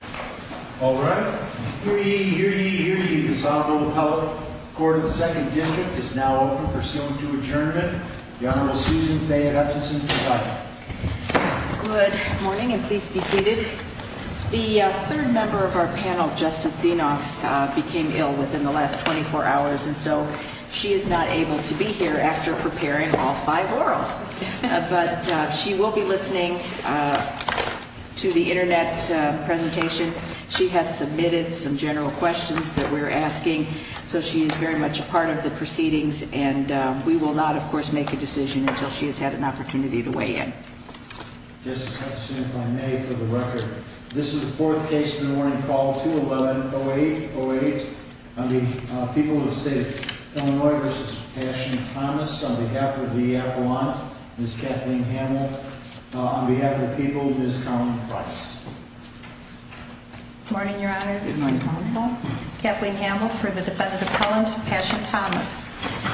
Good morning and please be seated. The third member of our panel, Justice Zinoff, became ill within the last 24 hours and so she is not able to be here after preparing all five questions. She will be listening to the internet presentation. She has submitted some general questions that we're asking, so she is very much a part of the proceedings and we will not, of course, make a decision until she has had an opportunity to weigh in. Justice Zinoff, I may, for the record, this is the fourth case in the morning, call 211-0808 on behalf of the people of the state of Illinois v. Passion Thomas, on behalf of the appellant, Ms. Kathleen Hamel, on behalf of the people, Ms. Collin Price. Good morning, Your Honors. Kathleen Hamel for the defendant appellant, Passion Thomas.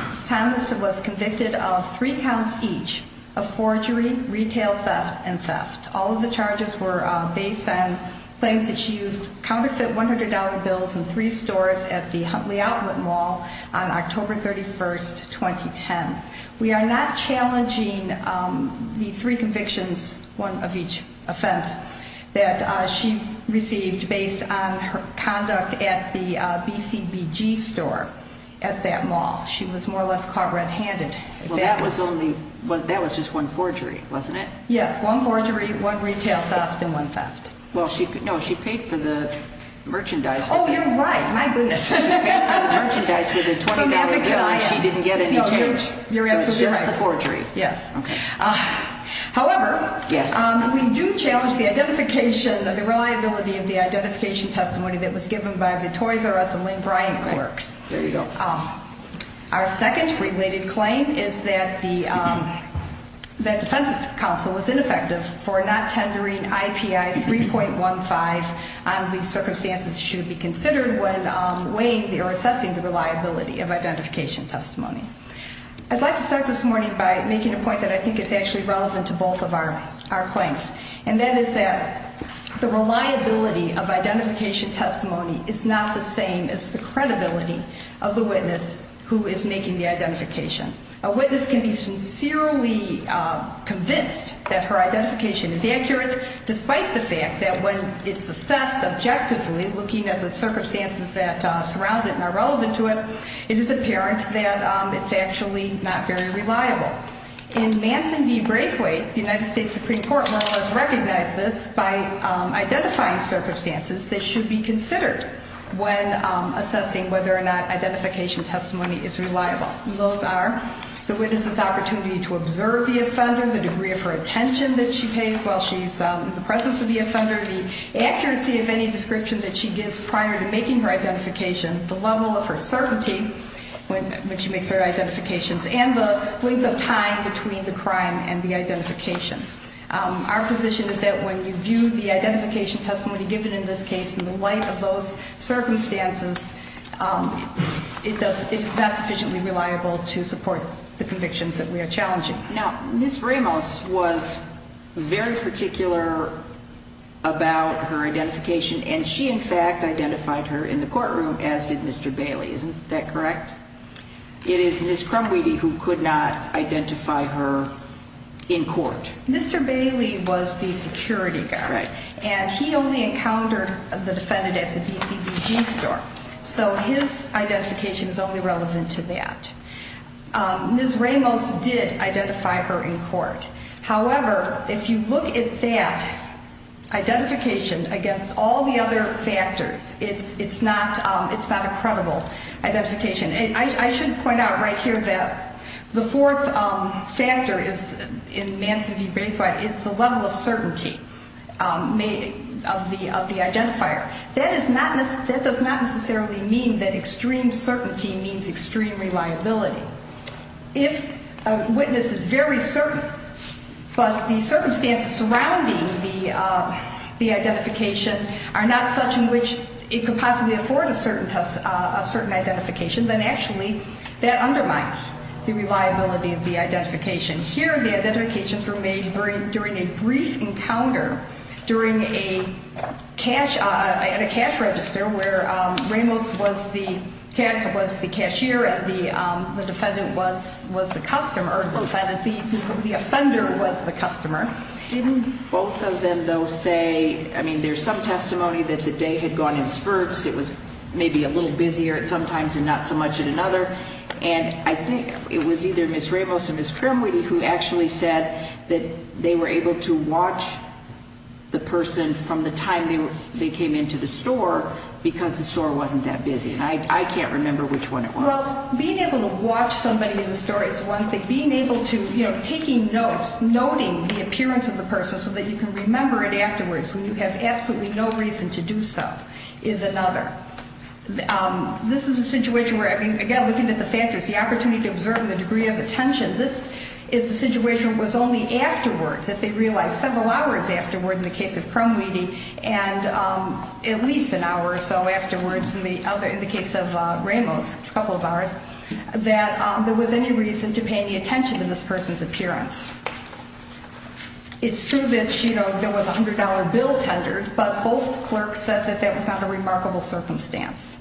Ms. Thomas was convicted of three counts each of forgery, retail theft, and theft. All of the charges were based on claims that she used counterfeit $100 bills in three stores at the Huntley Outlet Mall on October 31, 2010. We are not challenging the three convictions, one of each offense, that she received based on her conduct at the BCBG store at that mall. She was more or less caught red-handed. Well, that was only, that was just one forgery, wasn't it? Yes, one forgery, one retail theft, and one theft. Well, she, no, she paid for the merchandise. Oh, you're right, my goodness. She paid for the merchandise with a $20 bill and she didn't get any change. No, you're absolutely right. So it's just the forgery. Yes. Okay. However, we do challenge the identification, the reliability of the identification testimony that was given by the Torres R. S. and Lynn Bryant clerks. There you go. Our second related claim is that the defense counsel was ineffective for not tendering IPI 3.15 on these circumstances should be considered when weighing or assessing the reliability of identification testimony. I'd like to start this morning by making a point that I think is actually relevant to both of our claims, and that is that the reliability of identification testimony is not the same as the credibility of the witness who is making the identification. A witness can be sincerely convinced that her identification is accurate, despite the fact that when it's assessed objectively, looking at the circumstances that surround it and are relevant to it, it is apparent that it's actually not very reliable. In Manson v. Braithwaite, the United States Supreme Court has recognized this by identifying circumstances that should be considered when assessing whether or not identification testimony is reliable. And those are the witness's opportunity to observe the offender, the degree of her attention that she pays while she's in the presence of the offender, the accuracy of any description that she gives prior to making her identification, the level of her certainty when she makes her identifications, and the length of time between the crime and the identification. Our position is that when you view the identification testimony given in this case in the light of those circumstances, it's not sufficiently reliable to support the convictions that we are challenging. Now, Ms. Ramos was very particular about her identification, and she in fact identified her in the courtroom, as did Mr. Bailey. Isn't that correct? It is Ms. Crumweedy who could not identify her in court. Mr. Bailey was the security guard, and he only encountered the defendant at the BCBG store. So his identification is only relevant to that. Ms. Ramos did identify her in court. However, if you look at that identification against all the other factors, it's not a credible identification. I should point out right here that the fourth factor in Manson v. Braithwaite is the level of certainty of the identifier. That does not necessarily mean that extreme certainty means extreme reliability. If a witness is very certain, but the circumstances surrounding the identification are not such in which it could possibly afford a certain identification, then actually that undermines the reliability of the identification. Here, the identifications were made during a brief encounter during a cash register where Ramos was the cashier and the defendant was the customer. The offender was the customer. Didn't both of them, though, say, I mean, there's some testimony that the day had gone in spurts. It was maybe a little busier at some times and not so much at another. And I think it was either Ms. Ramos or Ms. Primwiti who actually said that they were able to watch the person from the time they came into the store because the store wasn't that busy. And I can't remember which one it was. Well, being able to watch somebody in the store is one thing. Being able to, you know, taking notes, noting the appearance of the person so that you can remember it afterwards when you have absolutely no reason to do so is another. This is a situation where, I mean, again, looking at the factors, the opportunity to observe and the degree of attention, this is a situation where it was only afterward that they realized, several hours afterward in the case of Primwiti and at least an hour or so afterwards in the case of Ramos, a couple of hours, that there was any reason to pay any attention to this person's appearance. It's true that, you know, there was a $100 bill tendered, but both clerks said that that was not a remarkable circumstance.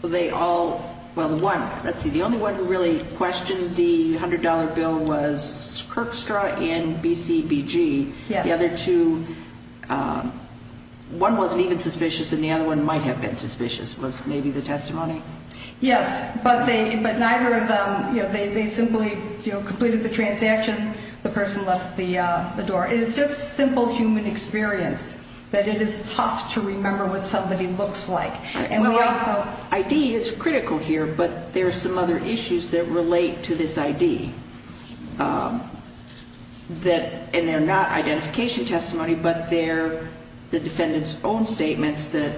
Well, they all, well, the one, let's see, the only one who really questioned the $100 bill was Kirkstra and BCBG. Yes. The other two, one wasn't even suspicious and the other one might have been suspicious, was maybe the testimony. Yes, but they, but neither of them, you know, they simply, you know, completed the transaction, the person left the door. And it's just simple human experience that it is tough to remember what somebody looks like. And we also, ID is critical here, but there are some other issues that relate to this ID that, and they're not identification testimony, but they're the defendant's own statements that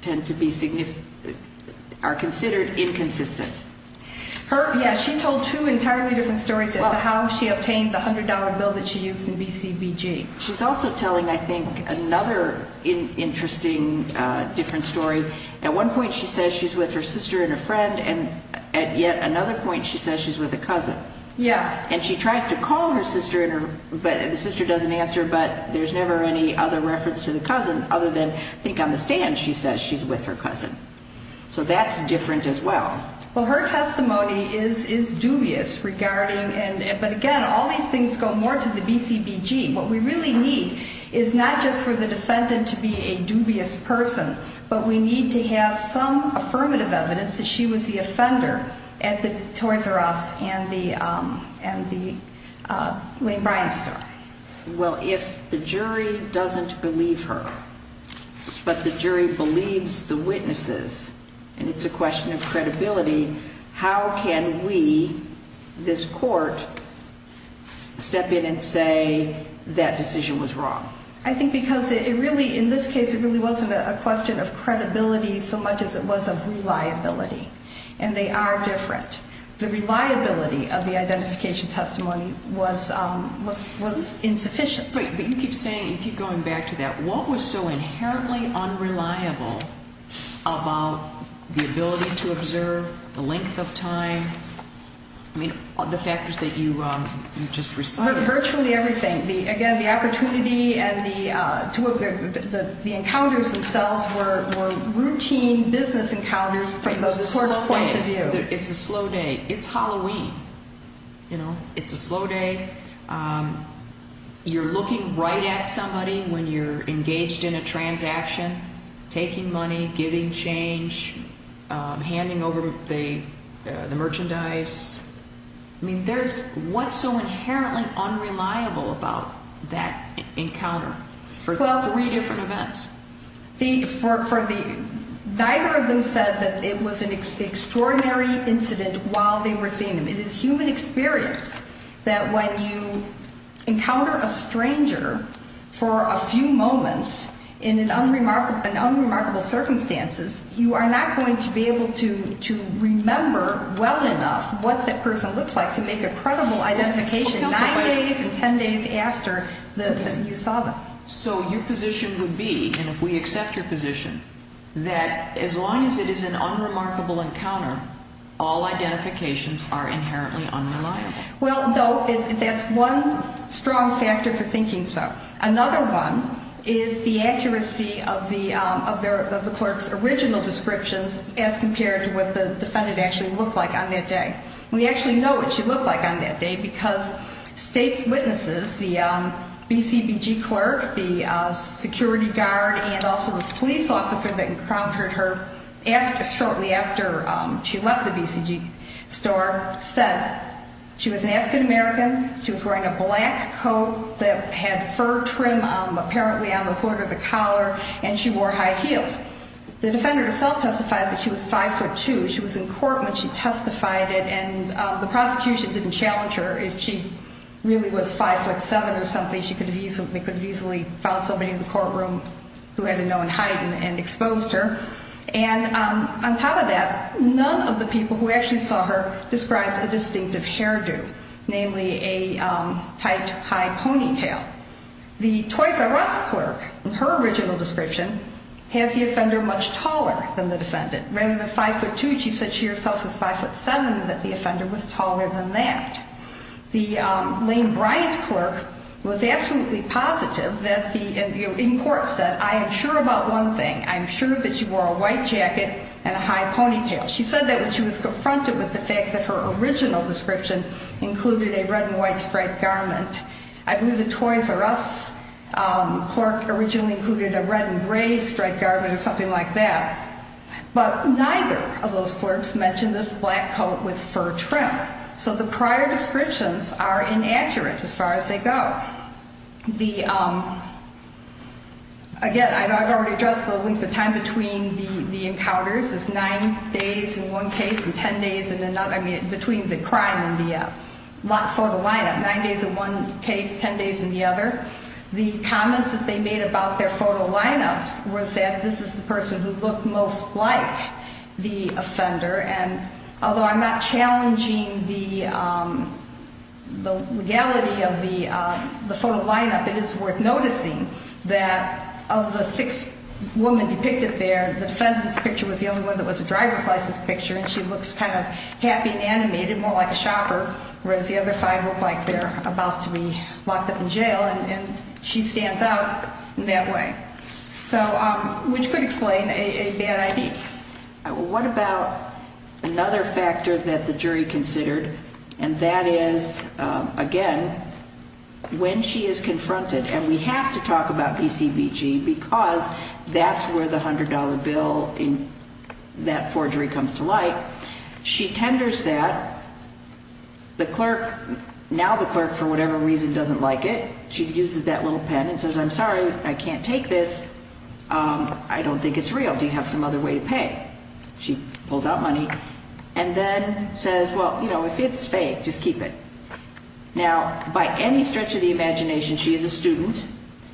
tend to be significant, are considered inconsistent. Her, yes, she told two entirely different stories as to how she obtained the $100 bill that she used in BCBG. She's also telling, I think, another interesting different story. At one point she says she's with her sister and a friend and at yet another point she says she's with a cousin. Yeah. And she tries to call her sister, but the sister doesn't answer, but there's never any other reference to the cousin, other than I think on the stand she says she's with her cousin. So that's different as well. Well, her testimony is dubious regarding, but again, all these things go more to the BCBG. What we really need is not just for the defendant to be a dubious person, but we need to have some affirmative evidence that she was the offender at the Toys R Us and the Lane Bryant story. Well, if the jury doesn't believe her, but the jury believes the witnesses, and it's a question of credibility, how can we, this court, step in and say that decision was wrong? I think because it really, in this case, it really wasn't a question of credibility so much as it was of reliability, and they are different. The reliability of the identification testimony was insufficient. But you keep saying, you keep going back to that. What was so inherently unreliable about the ability to observe, the length of time, I mean, the factors that you just recited? Virtually everything. Again, the opportunity and the encounters themselves were routine business encounters from the court's point of view. It's a slow day. It's Halloween. It's a slow day. You're looking right at somebody when you're engaged in a transaction, taking money, giving change, handing over the merchandise. I mean, what's so inherently unreliable about that encounter for three different events? Neither of them said that it was an extraordinary incident while they were seeing him. It is human experience that when you encounter a stranger for a few moments in an unremarkable circumstances, you are not going to be able to remember well enough what that person looks like to make a credible identification nine days and ten days after you saw them. So your position would be, and if we accept your position, that as long as it is an unremarkable encounter, all identifications are inherently unreliable. Well, no, that's one strong factor for thinking so. Another one is the accuracy of the clerk's original descriptions as compared to what the defendant actually looked like on that day. We actually know what she looked like on that day because state's witnesses, the BCBG clerk, the security guard, and also this police officer that encountered her shortly after she left the BCG store said she was an African American. She was wearing a black coat that had fur trim apparently on the hood or the collar, and she wore high heels. The defender herself testified that she was 5'2". She was in court when she testified it, and the prosecution didn't challenge her. If she really was 5'7 or something, they could have easily found somebody in the courtroom who had a known height and exposed her. And on top of that, none of the people who actually saw her described a distinctive hairdo, namely a tight, high ponytail. The Toys R Us clerk, in her original description, has the offender much taller than the defendant. Rather than 5'2", she said she herself was 5'7 and that the offender was taller than that. The Lane Bryant clerk was absolutely positive in court that I am sure about one thing. I'm sure that she wore a white jacket and a high ponytail. She said that when she was confronted with the fact that her original description included a red and white striped garment. I believe the Toys R Us clerk originally included a red and gray striped garment or something like that. But neither of those clerks mentioned this black coat with fur trim. So the prior descriptions are inaccurate as far as they go. Again, I've already addressed the length of time between the encounters. It's nine days in one case and ten days in another. I mean, between the crime and the photo line-up. Nine days in one case, ten days in the other. The comments that they made about their photo line-ups was that this is the person who looked most like the offender. And although I'm not challenging the legality of the photo line-up, it is worth noticing that of the six women depicted there, the defendant's picture was the only one that was a driver's license picture. And she looks kind of happy and animated, more like a shopper. Whereas the other five look like they're about to be locked up in jail. And she stands out in that way. So, which could explain a bad ID. What about another factor that the jury considered? And that is, again, when she is confronted. And we have to talk about BCBG because that's where the $100 bill in that forgery comes to light. She tenders that. Now the clerk, for whatever reason, doesn't like it. She uses that little pen and says, I'm sorry, I can't take this. I don't think it's real. Do you have some other way to pay? She pulls out money and then says, well, you know, if it's fake, just keep it. Now, by any stretch of the imagination, she is a student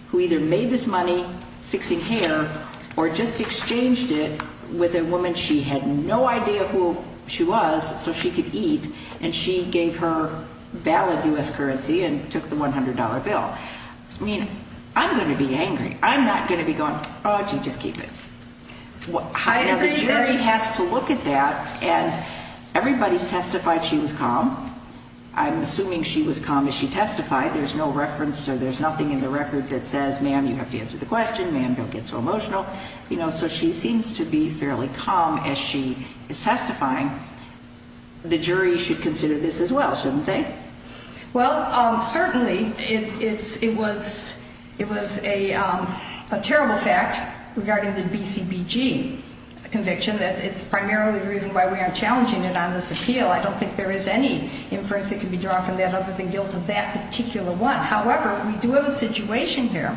who either made this money fixing hair or just exchanged it with a woman she had no idea who she was so she could eat. And she gave her valid U.S. currency and took the $100 bill. I mean, I'm going to be angry. I'm not going to be going, oh, gee, just keep it. Now the jury has to look at that, and everybody's testified she was calm. I'm assuming she was calm as she testified. There's no reference or there's nothing in the record that says, ma'am, you have to answer the question. Ma'am, don't get so emotional. So she seems to be fairly calm as she is testifying. The jury should consider this as well, shouldn't they? Well, certainly it was a terrible fact regarding the BCBG conviction. It's primarily the reason why we aren't challenging it on this appeal. I don't think there is any inference that can be drawn from that other than guilt of that particular one. However, we do have a situation here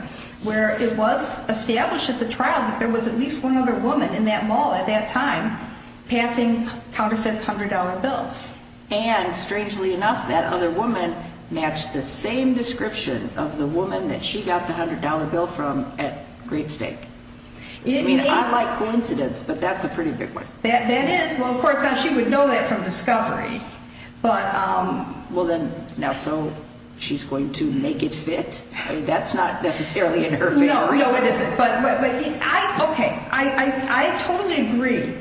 where it was established at the trial that there was at least one other woman in that mall at that time passing counterfeit $100 bills. And strangely enough, that other woman matched the same description of the woman that she got the $100 bill from at great stake. I mean, I like coincidence, but that's a pretty big one. That is. Well, of course, she would know that from discovery. Well, then, now, so she's going to make it fit? I mean, that's not necessarily in her favor. No, no, it isn't. Okay, I totally agree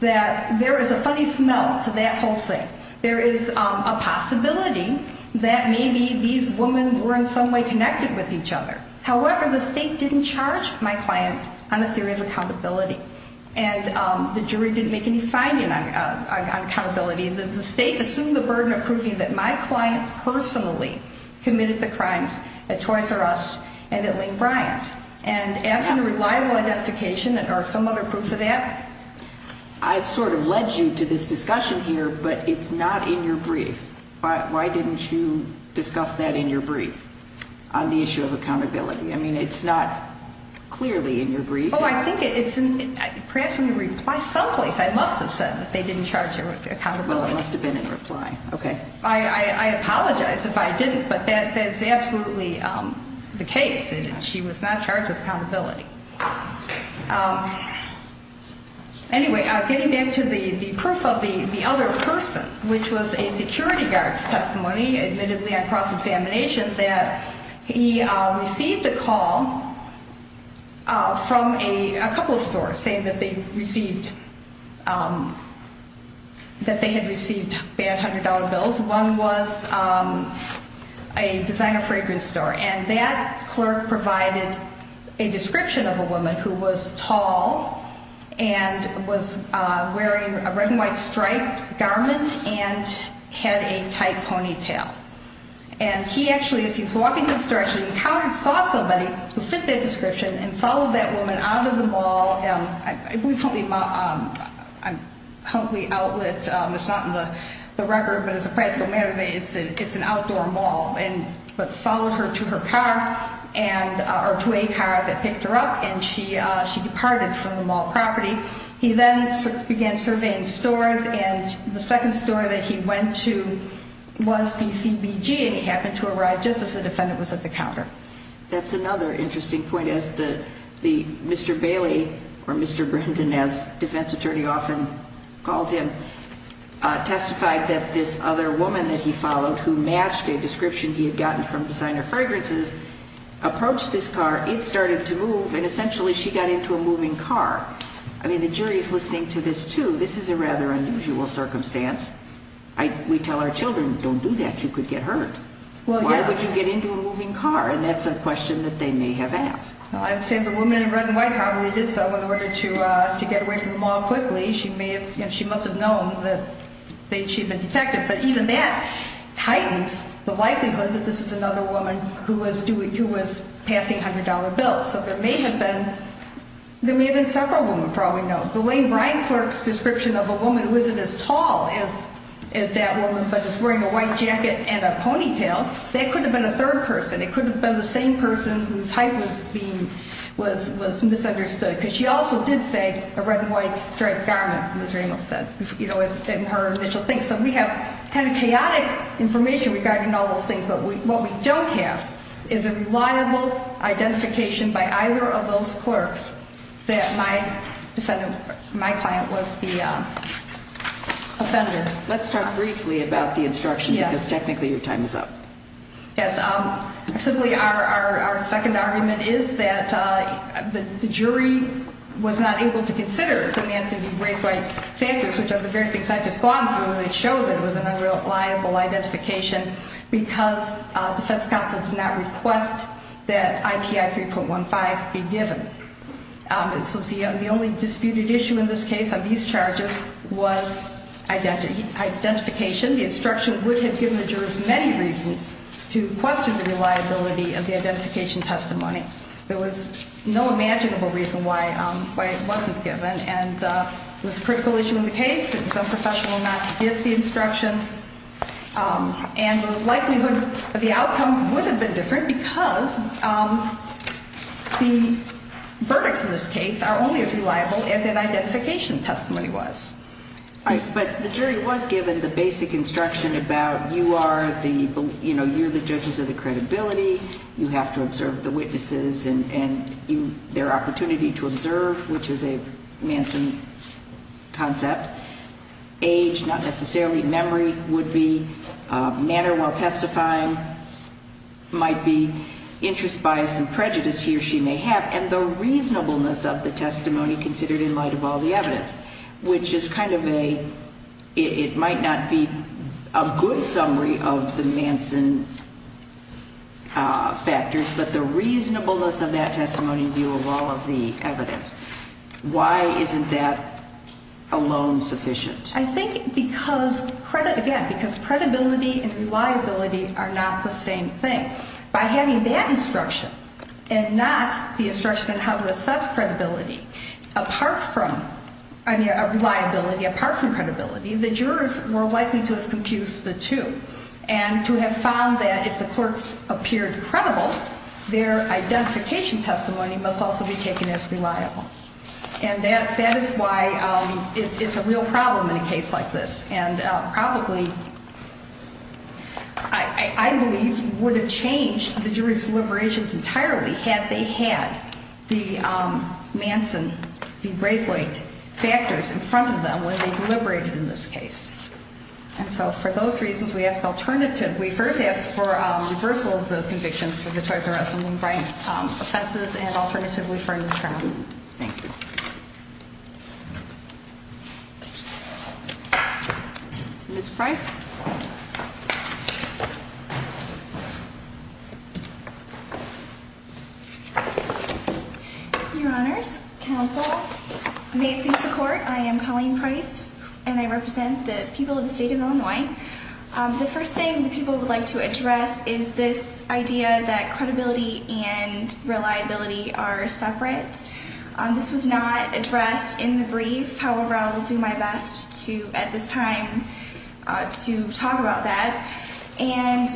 that there is a funny smell to that whole thing. There is a possibility that maybe these women were in some way connected with each other. However, the state didn't charge my client on a theory of accountability, and the jury didn't make any finding on accountability. The state assumed the burden of proving that my client personally committed the crimes at Toys R Us and at Lane Bryant. And asking a reliable identification or some other proof of that. I've sort of led you to this discussion here, but it's not in your brief. Why didn't you discuss that in your brief on the issue of accountability? I mean, it's not clearly in your brief. Oh, I think it's perhaps in the reply someplace. I must have said that they didn't charge her with accountability. Well, it must have been in reply. Okay. I apologize if I didn't, but that is absolutely the case. She was not charged with accountability. Anyway, getting back to the proof of the other person, which was a security guard's testimony, admittedly on cross-examination, that he received a call from a couple of stores saying that they had received bad $100 bills. One was a designer fragrance store. And that clerk provided a description of a woman who was tall and was wearing a red and white striped garment and had a tight ponytail. And he actually, as he was walking in this direction, he encountered, saw somebody who fit that description and followed that woman out of the mall. I believe Huntley outlet, it's not in the record, but as a practical matter, it's an outdoor mall. But followed her to her car, or to a car that picked her up, and she departed from the mall property. He then began surveying stores, and the second store that he went to was DCBG, and he happened to arrive just as the defendant was at the counter. That's another interesting point. As Mr. Bailey, or Mr. Brendan, as defense attorney often calls him, testified that this other woman that he followed, who matched a description he had gotten from designer fragrances, approached his car, it started to move, and essentially she got into a moving car. I mean, the jury's listening to this too. This is a rather unusual circumstance. We tell our children, don't do that, you could get hurt. Why would you get into a moving car? And that's a question that they may have asked. I would say the woman in red and white probably did so in order to get away from the mall quickly. She must have known that she had been detected. But even that heightens the likelihood that this is another woman who was passing $100 bills. So there may have been several women, for all we know. The way Brian Clark's description of a woman who isn't as tall as that woman, but is wearing a white jacket and a ponytail, that could have been a third person. It could have been the same person whose height was misunderstood. Because she also did say a red and white striped garment, as Ramos said, in her initial thing. So we have kind of chaotic information regarding all those things. But what we don't have is a reliable identification by either of those clerks that my client was the offender. Let's talk briefly about the instruction, because technically your time is up. Yes. Simply our second argument is that the jury was not able to consider demands to be raised by factors, which are the very things I've just gone through that show that it was an unreliable identification, because defense counsel did not request that IPI 3.15 be given. So the only disputed issue in this case on these charges was identification. The instruction would have given the jurors many reasons to question the reliability of the identification testimony. There was no imaginable reason why it wasn't given. And it was a critical issue in the case. It was unprofessional not to give the instruction. And the likelihood of the outcome would have been different, because the verdicts in this case are only as reliable as an identification testimony was. But the jury was given the basic instruction about you are the judges of the credibility. You have to observe the witnesses and their opportunity to observe, which is a Manson concept. Age, not necessarily. Memory would be. Manner while testifying might be. Interest, bias, and prejudice he or she may have. And the reasonableness of the testimony considered in light of all the evidence, which is kind of a, it might not be a good summary of the Manson factors, but the reasonableness of that testimony in view of all of the evidence. Why isn't that alone sufficient? I think because credibility and reliability are not the same thing. By having that instruction and not the instruction on how to assess credibility, apart from reliability, apart from credibility, the jurors were likely to have confused the two and to have found that if the clerks appeared credible, their identification testimony must also be taken as reliable. And that is why it's a real problem in a case like this. And probably, I believe, would have changed the jury's deliberations entirely had they had the Manson, the Braithwaite factors in front of them when they deliberated in this case. And so, for those reasons, we ask alternative. We first ask for reversal of the convictions for the Troyes and Russell and Bryant offenses and alternatively for an attorney. Thank you. Ms. Price. Your honors, counsel, may it please the court, I am Colleen Price and I represent the people of the state of Illinois. The first thing that people would like to address is this idea that credibility and reliability are separate. This was not addressed in the brief. However, I will do my best to, at this time, to try to address it in the brief. And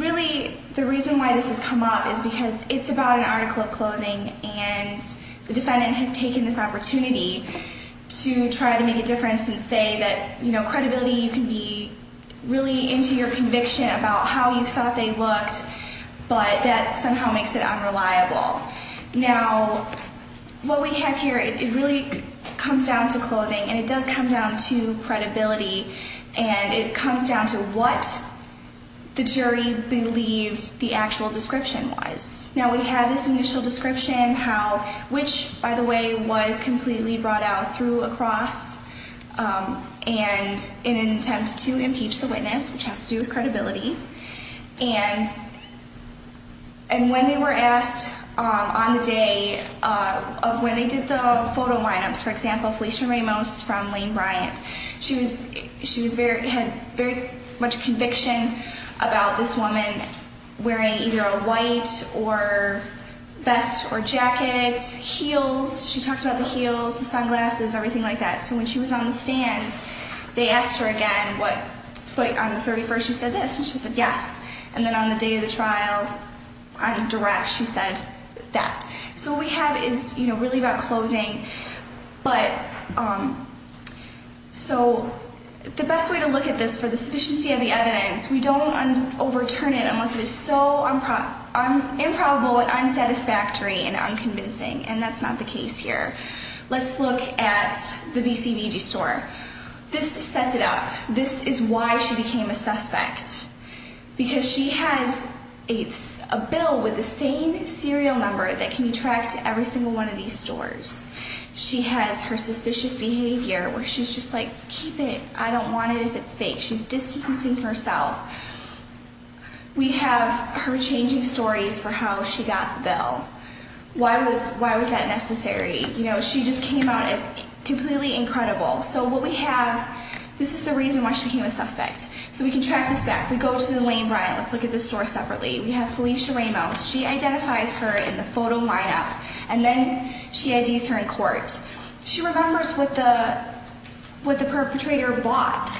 really, the reason why this has come up is because it's about an article of clothing and the defendant has taken this opportunity to try to make a difference and say that, you know, credibility, you can be really into your conviction about how you thought they looked, but that somehow makes it unreliable. Now, what we have here, it really comes down to clothing and it does come down to credibility and it comes down to what the jury believed the actual description was. Now, we have this initial description, which, by the way, was completely brought out through a cross and in an attempt to impeach the witness, which has to do with credibility. And when they were asked on the day of when they did the photo lineups, for example, Felicia Ramos from Lane Bryant, she had very much conviction about this woman wearing either a white or vest or jacket, heels. She talked about the heels, the sunglasses, everything like that. So when she was on the stand, they asked her again, on the 31st, she said this, and she said yes. And then on the day of the trial, on direct, she said that. So what we have is really about clothing, but so the best way to look at this for the sufficiency of the evidence, we don't overturn it unless it is so improbable and unsatisfactory and unconvincing, and that's not the case here. Let's look at the BCBG store. This sets it up. This is why she became a suspect, because she has a bill with the same serial number that can be tracked to every single one of these stores. She has her suspicious behavior where she's just like, keep it. I don't want it if it's fake. She's distancing herself. We have her changing stories for how she got the bill. Why was that necessary? You know, she just came out as completely incredible. So what we have, this is the reason why she became a suspect. So we can track this back. We go to the Lane Bryant. Let's look at this store separately. We have Felicia Ramos. She identifies her in the photo lineup, and then she IDs her in court. She remembers what the perpetrator bought.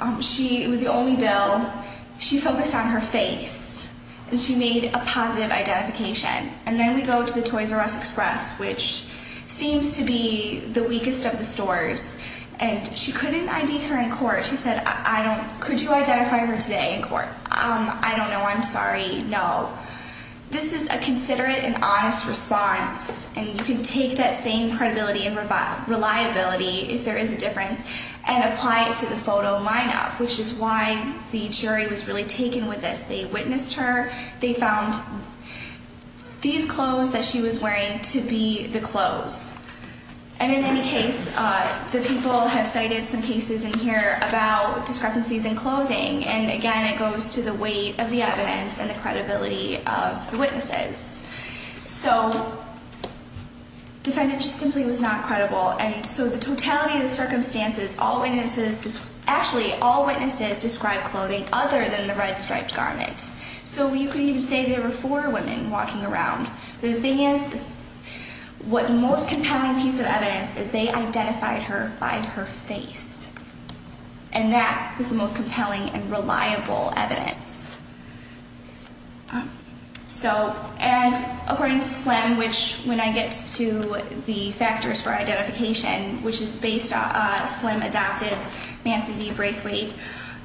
It was the only bill. She focused on her face, and she made a positive identification. And then we go to the Toys R Us Express, which seems to be the weakest of the stores. And she couldn't ID her in court. She said, could you identify her today in court? I don't know. I'm sorry. No. This is a considerate and honest response. And you can take that same credibility and reliability, if there is a difference, and apply it to the photo lineup, which is why the jury was really taken with this. They witnessed her. They found these clothes that she was wearing to be the clothes. And in any case, the people have cited some cases in here about discrepancies in clothing. And, again, it goes to the weight of the evidence and the credibility of the witnesses. So the defendant just simply was not credible. And so the totality of the circumstances, all witnesses, actually, all witnesses described clothing other than the red striped garment. So you could even say there were four women walking around. The thing is, what the most compelling piece of evidence is they identified her by her face. And that was the most compelling and reliable evidence. So, and according to SLIM, which when I get to the factors for identification, which is based on SLIM-adopted Manson v. Braithwaite,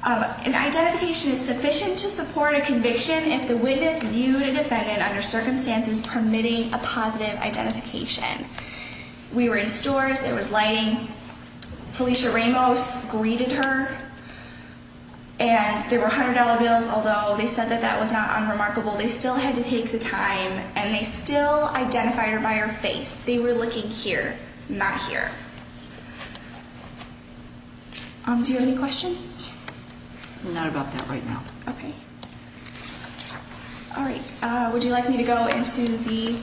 an identification is sufficient to support a conviction if the witness viewed a defendant under circumstances permitting a positive identification. We were in stores. There was lighting. Felicia Ramos greeted her. And there were $100 bills, although they said that that was not unremarkable. They still had to take the time, and they still identified her by her face. They were looking here, not here. Do you have any questions? Not about that right now. Okay. All right. Would you like me to go into the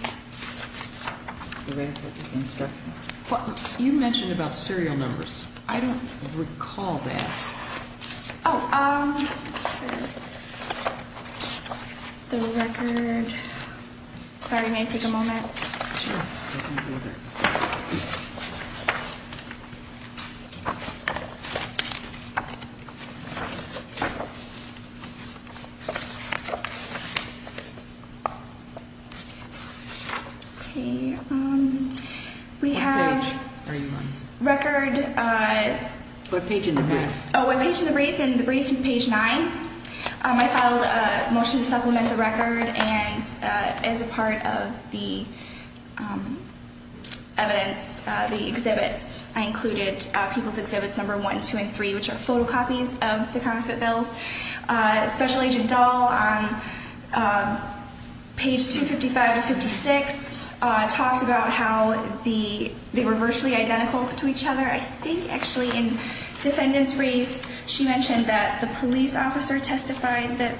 record? You mentioned about serial numbers. I don't recall that. Oh, the record. Sorry. May I take a moment? Sure. Go ahead. Okay. We have record. What page in the brief? Oh, what page in the brief? In the brief, page nine. I filed a motion to supplement the record. And as a part of the evidence, the exhibits, I included people's exhibits number one, two, and three, which are photocopies of the counterfeit bills. Special Agent Dahl on page 255 to 56 talked about how they were virtually identical to each other. I think, actually, in defendant's brief, she mentioned that the police officer testified that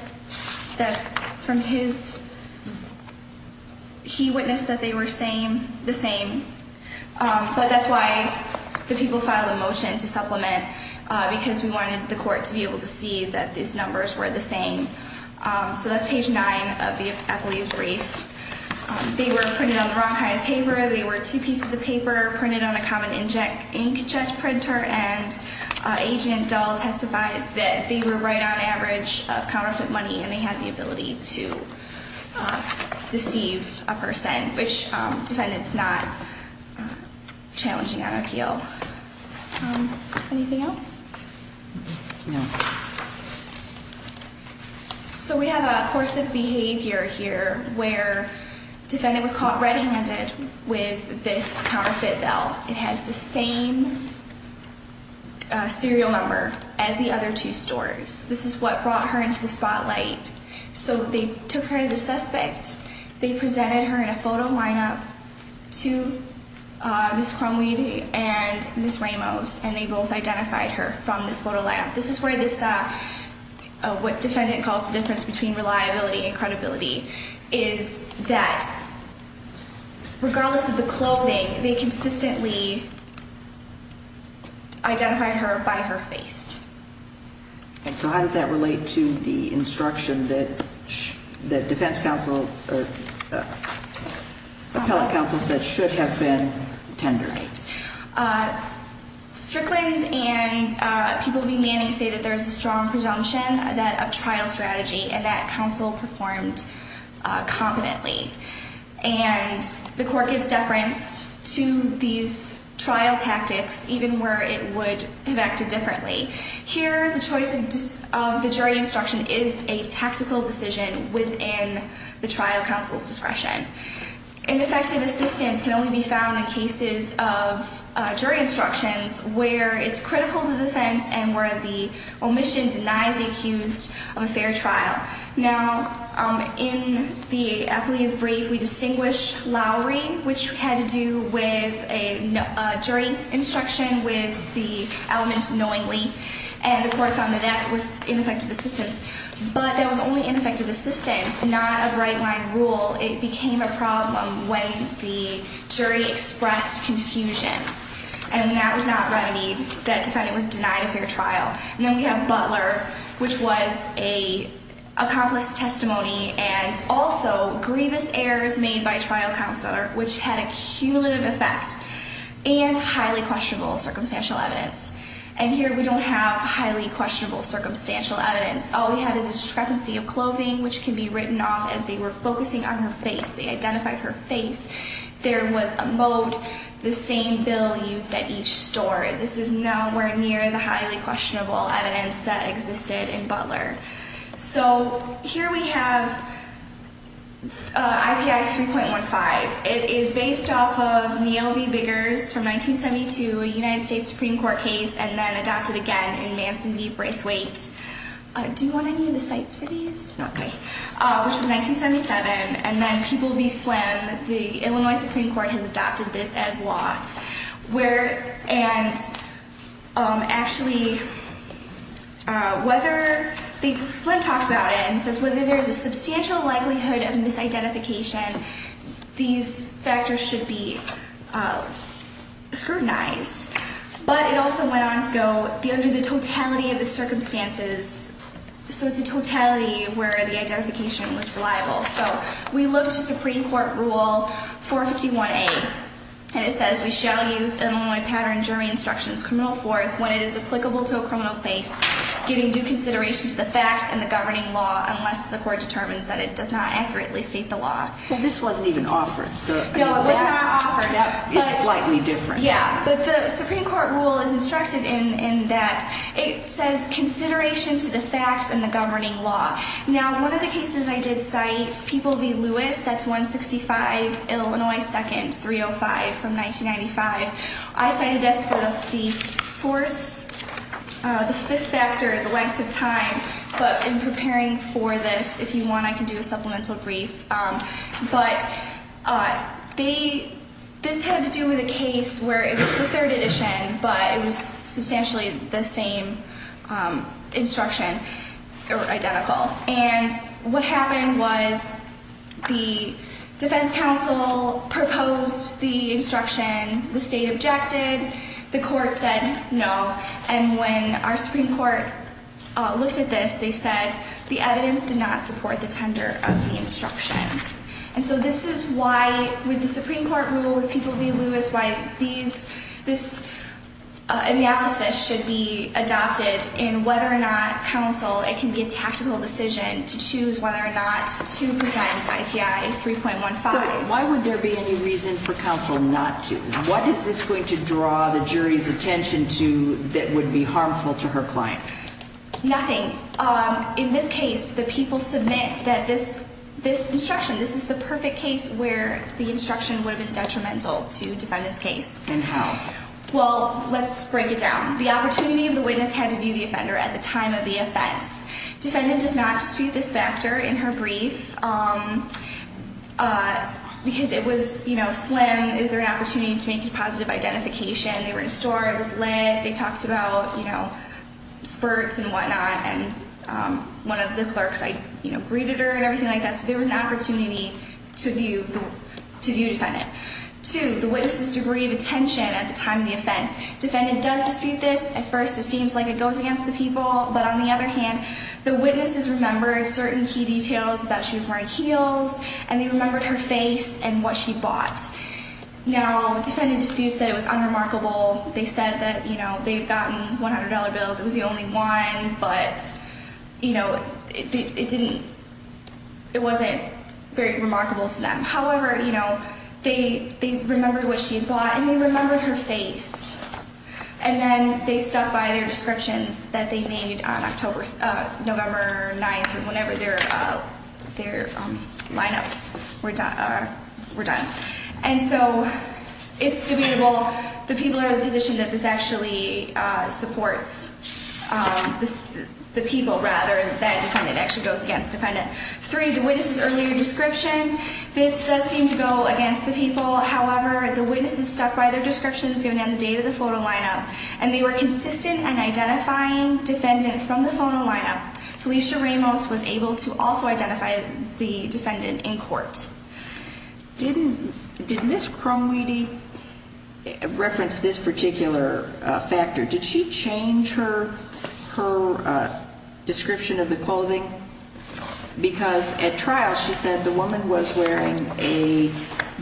from his, he witnessed that they were the same. But that's why the people filed a motion to supplement, because we wanted the court to be able to see that these numbers were the same. So that's page nine of the appellee's brief. They were printed on the wrong kind of paper. They were two pieces of paper printed on a common inkjet printer. And Agent Dahl testified that they were right on average of counterfeit money, and they had the ability to deceive a person, which defendants not challenging on appeal. Anything else? No. So we have a course of behavior here where defendant was caught red-handed with this counterfeit bill. It has the same serial number as the other two stores. This is what brought her into the spotlight. So they took her as a suspect. They presented her in a photo lineup to Ms. Crumweed and Ms. Ramos, and they both identified her from this photo lineup. This is where this, what defendant calls the difference between reliability and credibility, is that regardless of the clothing, they consistently identified her by her face. And so how does that relate to the instruction that defense counsel or appellate counsel said should have been tendered? Strickland and People v. Manning say that there's a strong presumption that a trial strategy and that counsel performed competently. And the court gives deference to these trial tactics even where it would have acted differently. Here, the choice of the jury instruction is a tactical decision within the trial counsel's discretion. Ineffective assistance can only be found in cases of jury instructions where it's critical to defense and where the omission denies the accused of a fair trial. Now, in the appellee's brief, we distinguished Lowry, which had to do with a jury instruction with the element knowingly. And the court found that that was ineffective assistance. But that was only ineffective assistance, not a right-line rule. It became a problem when the jury expressed confusion. And that was not remedied. That defendant was denied a fair trial. And then we have Butler, which was an accomplice testimony and also grievous errors made by trial counsel, which had a cumulative effect and highly questionable circumstantial evidence. And here we don't have highly questionable circumstantial evidence. All we have is a discrepancy of clothing, which can be written off as they were focusing on her face. They identified her face. There was a moat, the same bill used at each store. This is nowhere near the highly questionable evidence that existed in Butler. So here we have IPI 3.15. It is based off of Neal v. Biggers from 1972, a United States Supreme Court case, and then adopted again in Manson v. Braithwaite. Do you want any of the sites for these? Okay. Which was 1977. And then People v. Slim. The Illinois Supreme Court has adopted this as law. And actually, Slim talks about it and says whether there is a substantial likelihood of misidentification, these factors should be scrutinized. But it also went on to go under the totality of the circumstances. So it's a totality where the identification was reliable. So we look to Supreme Court Rule 451A, and it says, Well, this wasn't even offered. No, it was not offered. It's slightly different. Yeah. But the Supreme Court rule is instructive in that it says, Now, one of the cases I did cite, People v. Lewis, that's 165 Illinois 2nd, 305 from 1995. I cited this for the fourth, the fifth factor, the length of time. But in preparing for this, if you want, I can do a supplemental brief. But this had to do with a case where it was the third edition, but it was substantially the same instruction, or identical. And what happened was the defense counsel proposed the instruction. The state objected. The court said no. And when our Supreme Court looked at this, they said the evidence did not support the tender of the instruction. And so this is why, with the Supreme Court rule, with People v. Lewis, why this analysis should be adopted in whether or not counsel, it can be a tactical decision to choose whether or not to present IPI 3.15. So why would there be any reason for counsel not to? What is this going to draw the jury's attention to that would be harmful to her client? Nothing. In this case, the people submit that this instruction, this is the perfect case where the instruction would have been detrimental to defendant's case. And how? Well, let's break it down. The opportunity of the witness had to view the offender at the time of the offense. Defendant does not dispute this factor in her brief because it was slim. Is there an opportunity to make a positive identification? They were in store. It was lit. They talked about spurts and whatnot. And one of the clerks, I greeted her and everything like that. So there was an opportunity to view defendant. Two, the witness's degree of attention at the time of the offense. Defendant does dispute this. At first, it seems like it goes against the people. But on the other hand, the witnesses remembered certain key details, that she was wearing heels, and they remembered her face and what she bought. Now, defendant disputes that it was unremarkable. They said that, you know, they had gotten $100 bills. It was the only one. But, you know, it didn't, it wasn't very remarkable to them. However, you know, they remembered what she had bought and they remembered her face. And then they stuck by their descriptions that they made on October, November 9th, whenever their lineups were done. And so it's debatable. The people are in a position that this actually supports the people rather than defendant. It actually goes against defendant. Three, the witness's earlier description. This does seem to go against the people. However, the witnesses stuck by their descriptions given on the date of the photo lineup. And they were consistent in identifying defendant from the photo lineup. Felicia Ramos was able to also identify the defendant in court. Did Ms. Crumweedy reference this particular factor? Did she change her description of the clothing? Because at trial she said the woman was wearing a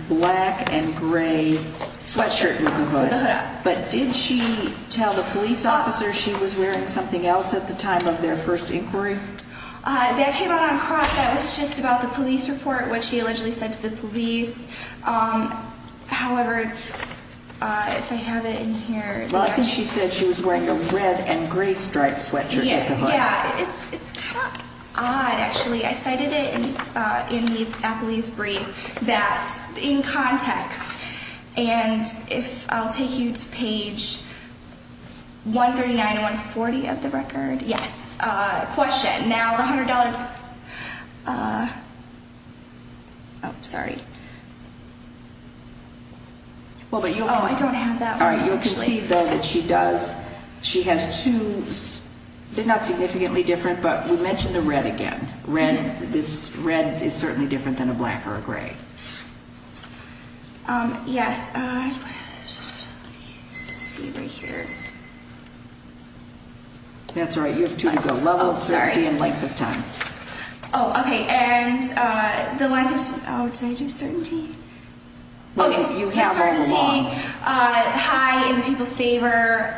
black and gray sweatshirt with a hood. But did she tell the police officer she was wearing something else at the time of their first inquiry? That came out on cross. That was just about the police report, what she allegedly said to the police. However, if I have it in here. Well, I think she said she was wearing a red and gray striped sweatshirt with a hood. Yeah, it's kind of odd actually. I cited it in the appellee's brief that in context. And if I'll take you to page 139 and 140 of the record. Yes, question. Now the $100. Oh, sorry. Oh, I don't have that one actually. You can see though that she does. She has two, they're not significantly different, but we mentioned the red again. Red, this red is certainly different than a black or a gray. Yes. Let me see right here. That's all right, you have two to go. Level of certainty and length of time. Oh, okay. And the length of, oh, did I do certainty? Oh, yes, the certainty, high in the people's favor.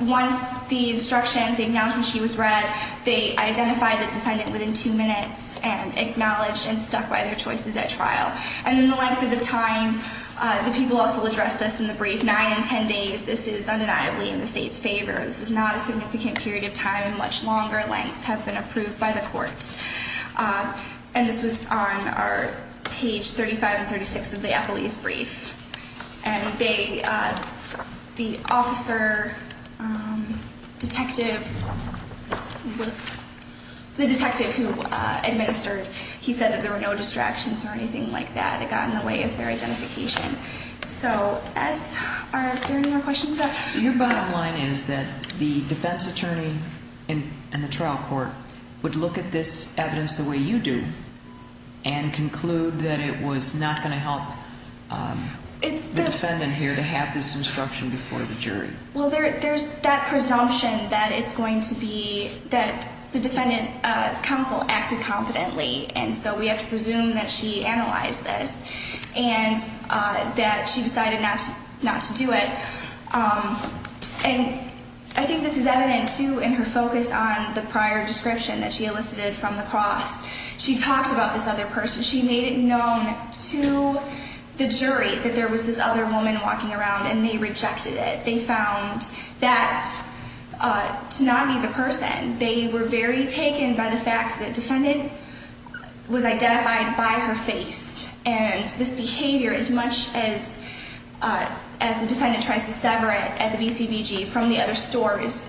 Once the instructions, the acknowledgement sheet was read, they identified the defendant within two minutes and acknowledged and stuck by their choices at trial. And then the length of the time, the people also addressed this in the brief, nine and ten days. This is undeniably in the state's favor. This is not a significant period of time and much longer lengths have been approved by the court. And this was on our page 35 and 36 of the appellee's brief. And they, the officer, detective, the detective who administered, he said that there were no distractions or anything like that that got in the way of their identification. So are there any more questions about this? So your bottom line is that the defense attorney and the trial court would look at this evidence the way you do and conclude that it was not going to help the defendant here to have this instruction before the jury. Well, there's that presumption that it's going to be, that the defendant's counsel acted competently. And so we have to presume that she analyzed this and that she decided not to do it. And I think this is evident, too, in her focus on the prior description that she elicited from the cross. She talked about this other person. She made it known to the jury that there was this other woman walking around and they rejected it. They found that to not be the person. They were very taken by the fact that defendant was identified by her face. And this behavior, as much as the defendant tries to sever it at the BCBG from the other stores,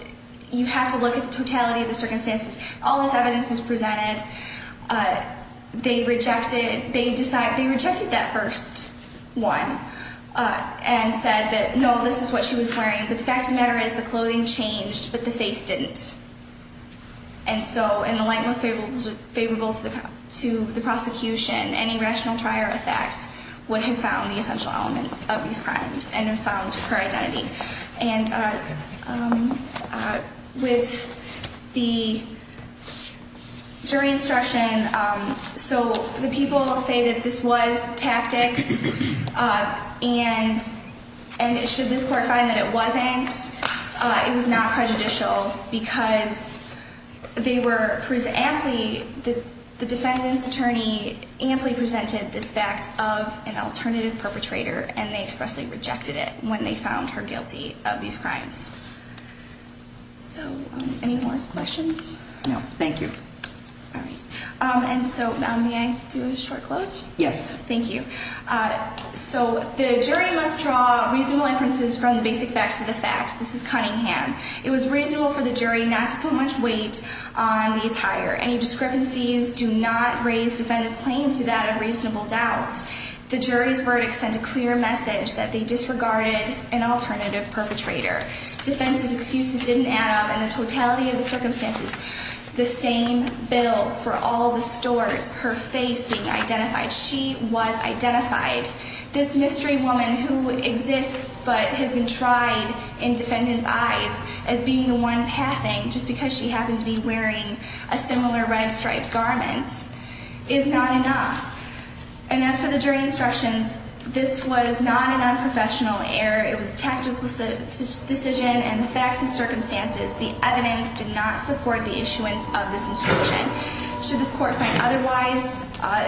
you have to look at the totality of the circumstances. All this evidence was presented. They rejected that first one and said that, no, this is what she was wearing. But the fact of the matter is the clothing changed, but the face didn't. And so in the light most favorable to the prosecution, any rational try or effect would have found the essential elements of these crimes and have found her identity. And with the jury instruction, so the people say that this was tactics. And should this court find that it wasn't, it was not prejudicial because the defendant's attorney amply presented this fact of an alternative perpetrator and they expressly rejected it when they found her guilty of these crimes. So any more questions? No, thank you. And so may I do a short close? Yes. Thank you. So the jury must draw reasonable inferences from the basic facts of the facts. This is Cunningham. It was reasonable for the jury not to put much weight on the attire. Any discrepancies do not raise defendant's claim to that of reasonable doubt. The jury's verdict sent a clear message that they disregarded an alternative perpetrator. Defendant's excuses didn't add up and the totality of the circumstances. The same bill for all the stores, her face being identified. She was identified. This mystery woman who exists but has been tried in defendant's eyes as being the one passing just because she happened to be wearing a similar red striped garment is not enough. And as for the jury instructions, this was not an unprofessional error. It was a tactical decision and the facts and circumstances, the evidence did not support the issuance of this instruction. Should this court find otherwise,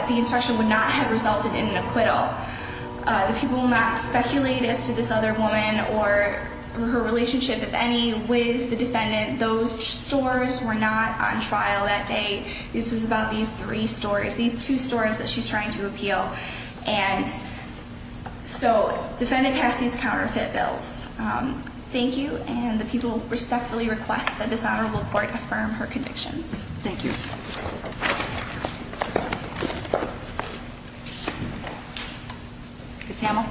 the instruction would not have resulted in an acquittal. The people will not speculate as to this other woman or her relationship, if any, with the defendant. Those stores were not on trial that day. This was about these three stores, these two stores that she's trying to appeal. And so defendant passed these counterfeit bills. Thank you. And the people respectfully request that this Honorable Court affirm her convictions. Thank you. Ms. Hamel.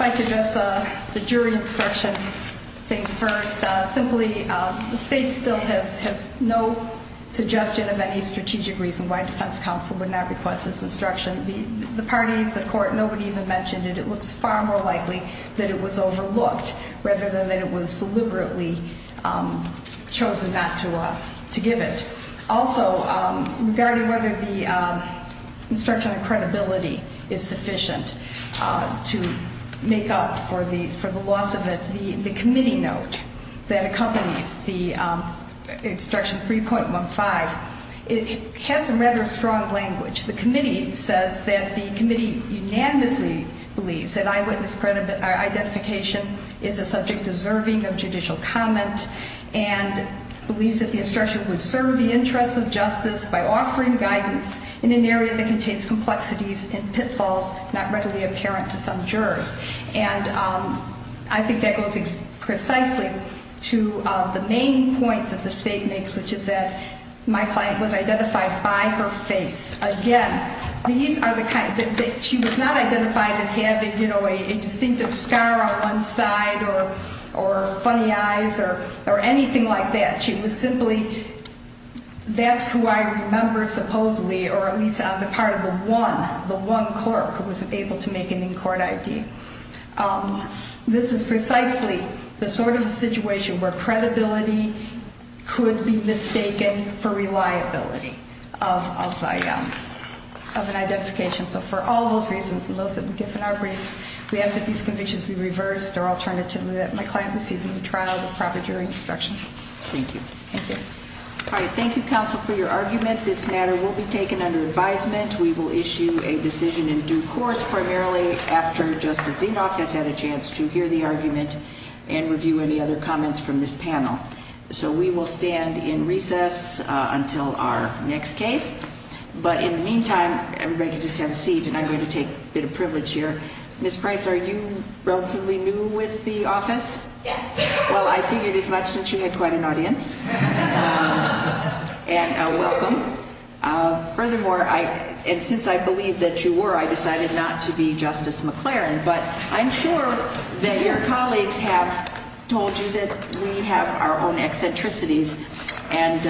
I'd like to address the jury instruction thing first. Simply, the state still has no suggestion of any strategic reason why a defense counsel would not request this instruction. The parties, the court, nobody even mentioned it. It looks far more likely that it was overlooked rather than that it was deliberately chosen not to give it. Also, regarding whether the instruction on credibility is sufficient to make up for the loss of it, the committee note that accompanies the instruction 3.15, it has some rather strong language. The committee says that the committee unanimously believes that eyewitness identification is a subject deserving of judicial comment and believes that the instruction would serve the interests of justice by offering guidance in an area that contains complexities and pitfalls not readily apparent to some jurors. And I think that goes precisely to the main point that the state makes, which is that my client was identified by her face. Again, these are the kind that she was not identified as having, you know, a distinctive scar on one side or funny eyes or anything like that. She was simply that's who I remember supposedly or at least on the part of the one, the one clerk who was able to make an in-court ID. This is precisely the sort of situation where credibility could be mistaken for reliability of an identification. So for all those reasons and those that we give in our briefs, we ask that these convictions be reversed or alternatively that my client receive a new trial with proper jury instructions. Thank you. Thank you. All right. Thank you, counsel, for your argument. This matter will be taken under advisement. We will issue a decision in due course primarily after Justice Zinoff has had a chance to hear the argument and review any other comments from this panel. So we will stand in recess until our next case. But in the meantime, everybody can just have a seat, and I'm going to take a bit of privilege here. Ms. Price, are you relatively new with the office? Yes. Well, I figured as much since you had quite an audience. And welcome. Thank you. Furthermore, and since I believe that you were, I decided not to be Justice McLaren. But I'm sure that your colleagues have told you that we have our own eccentricities, and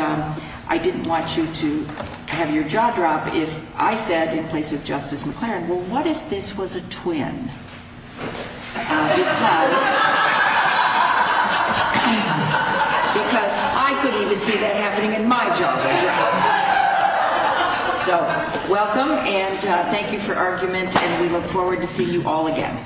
I didn't want you to have your jaw drop if I said in place of Justice McLaren, well, what if this was a twin? Because I couldn't even see that happening in my job. So welcome, and thank you for argument, and we look forward to seeing you all again.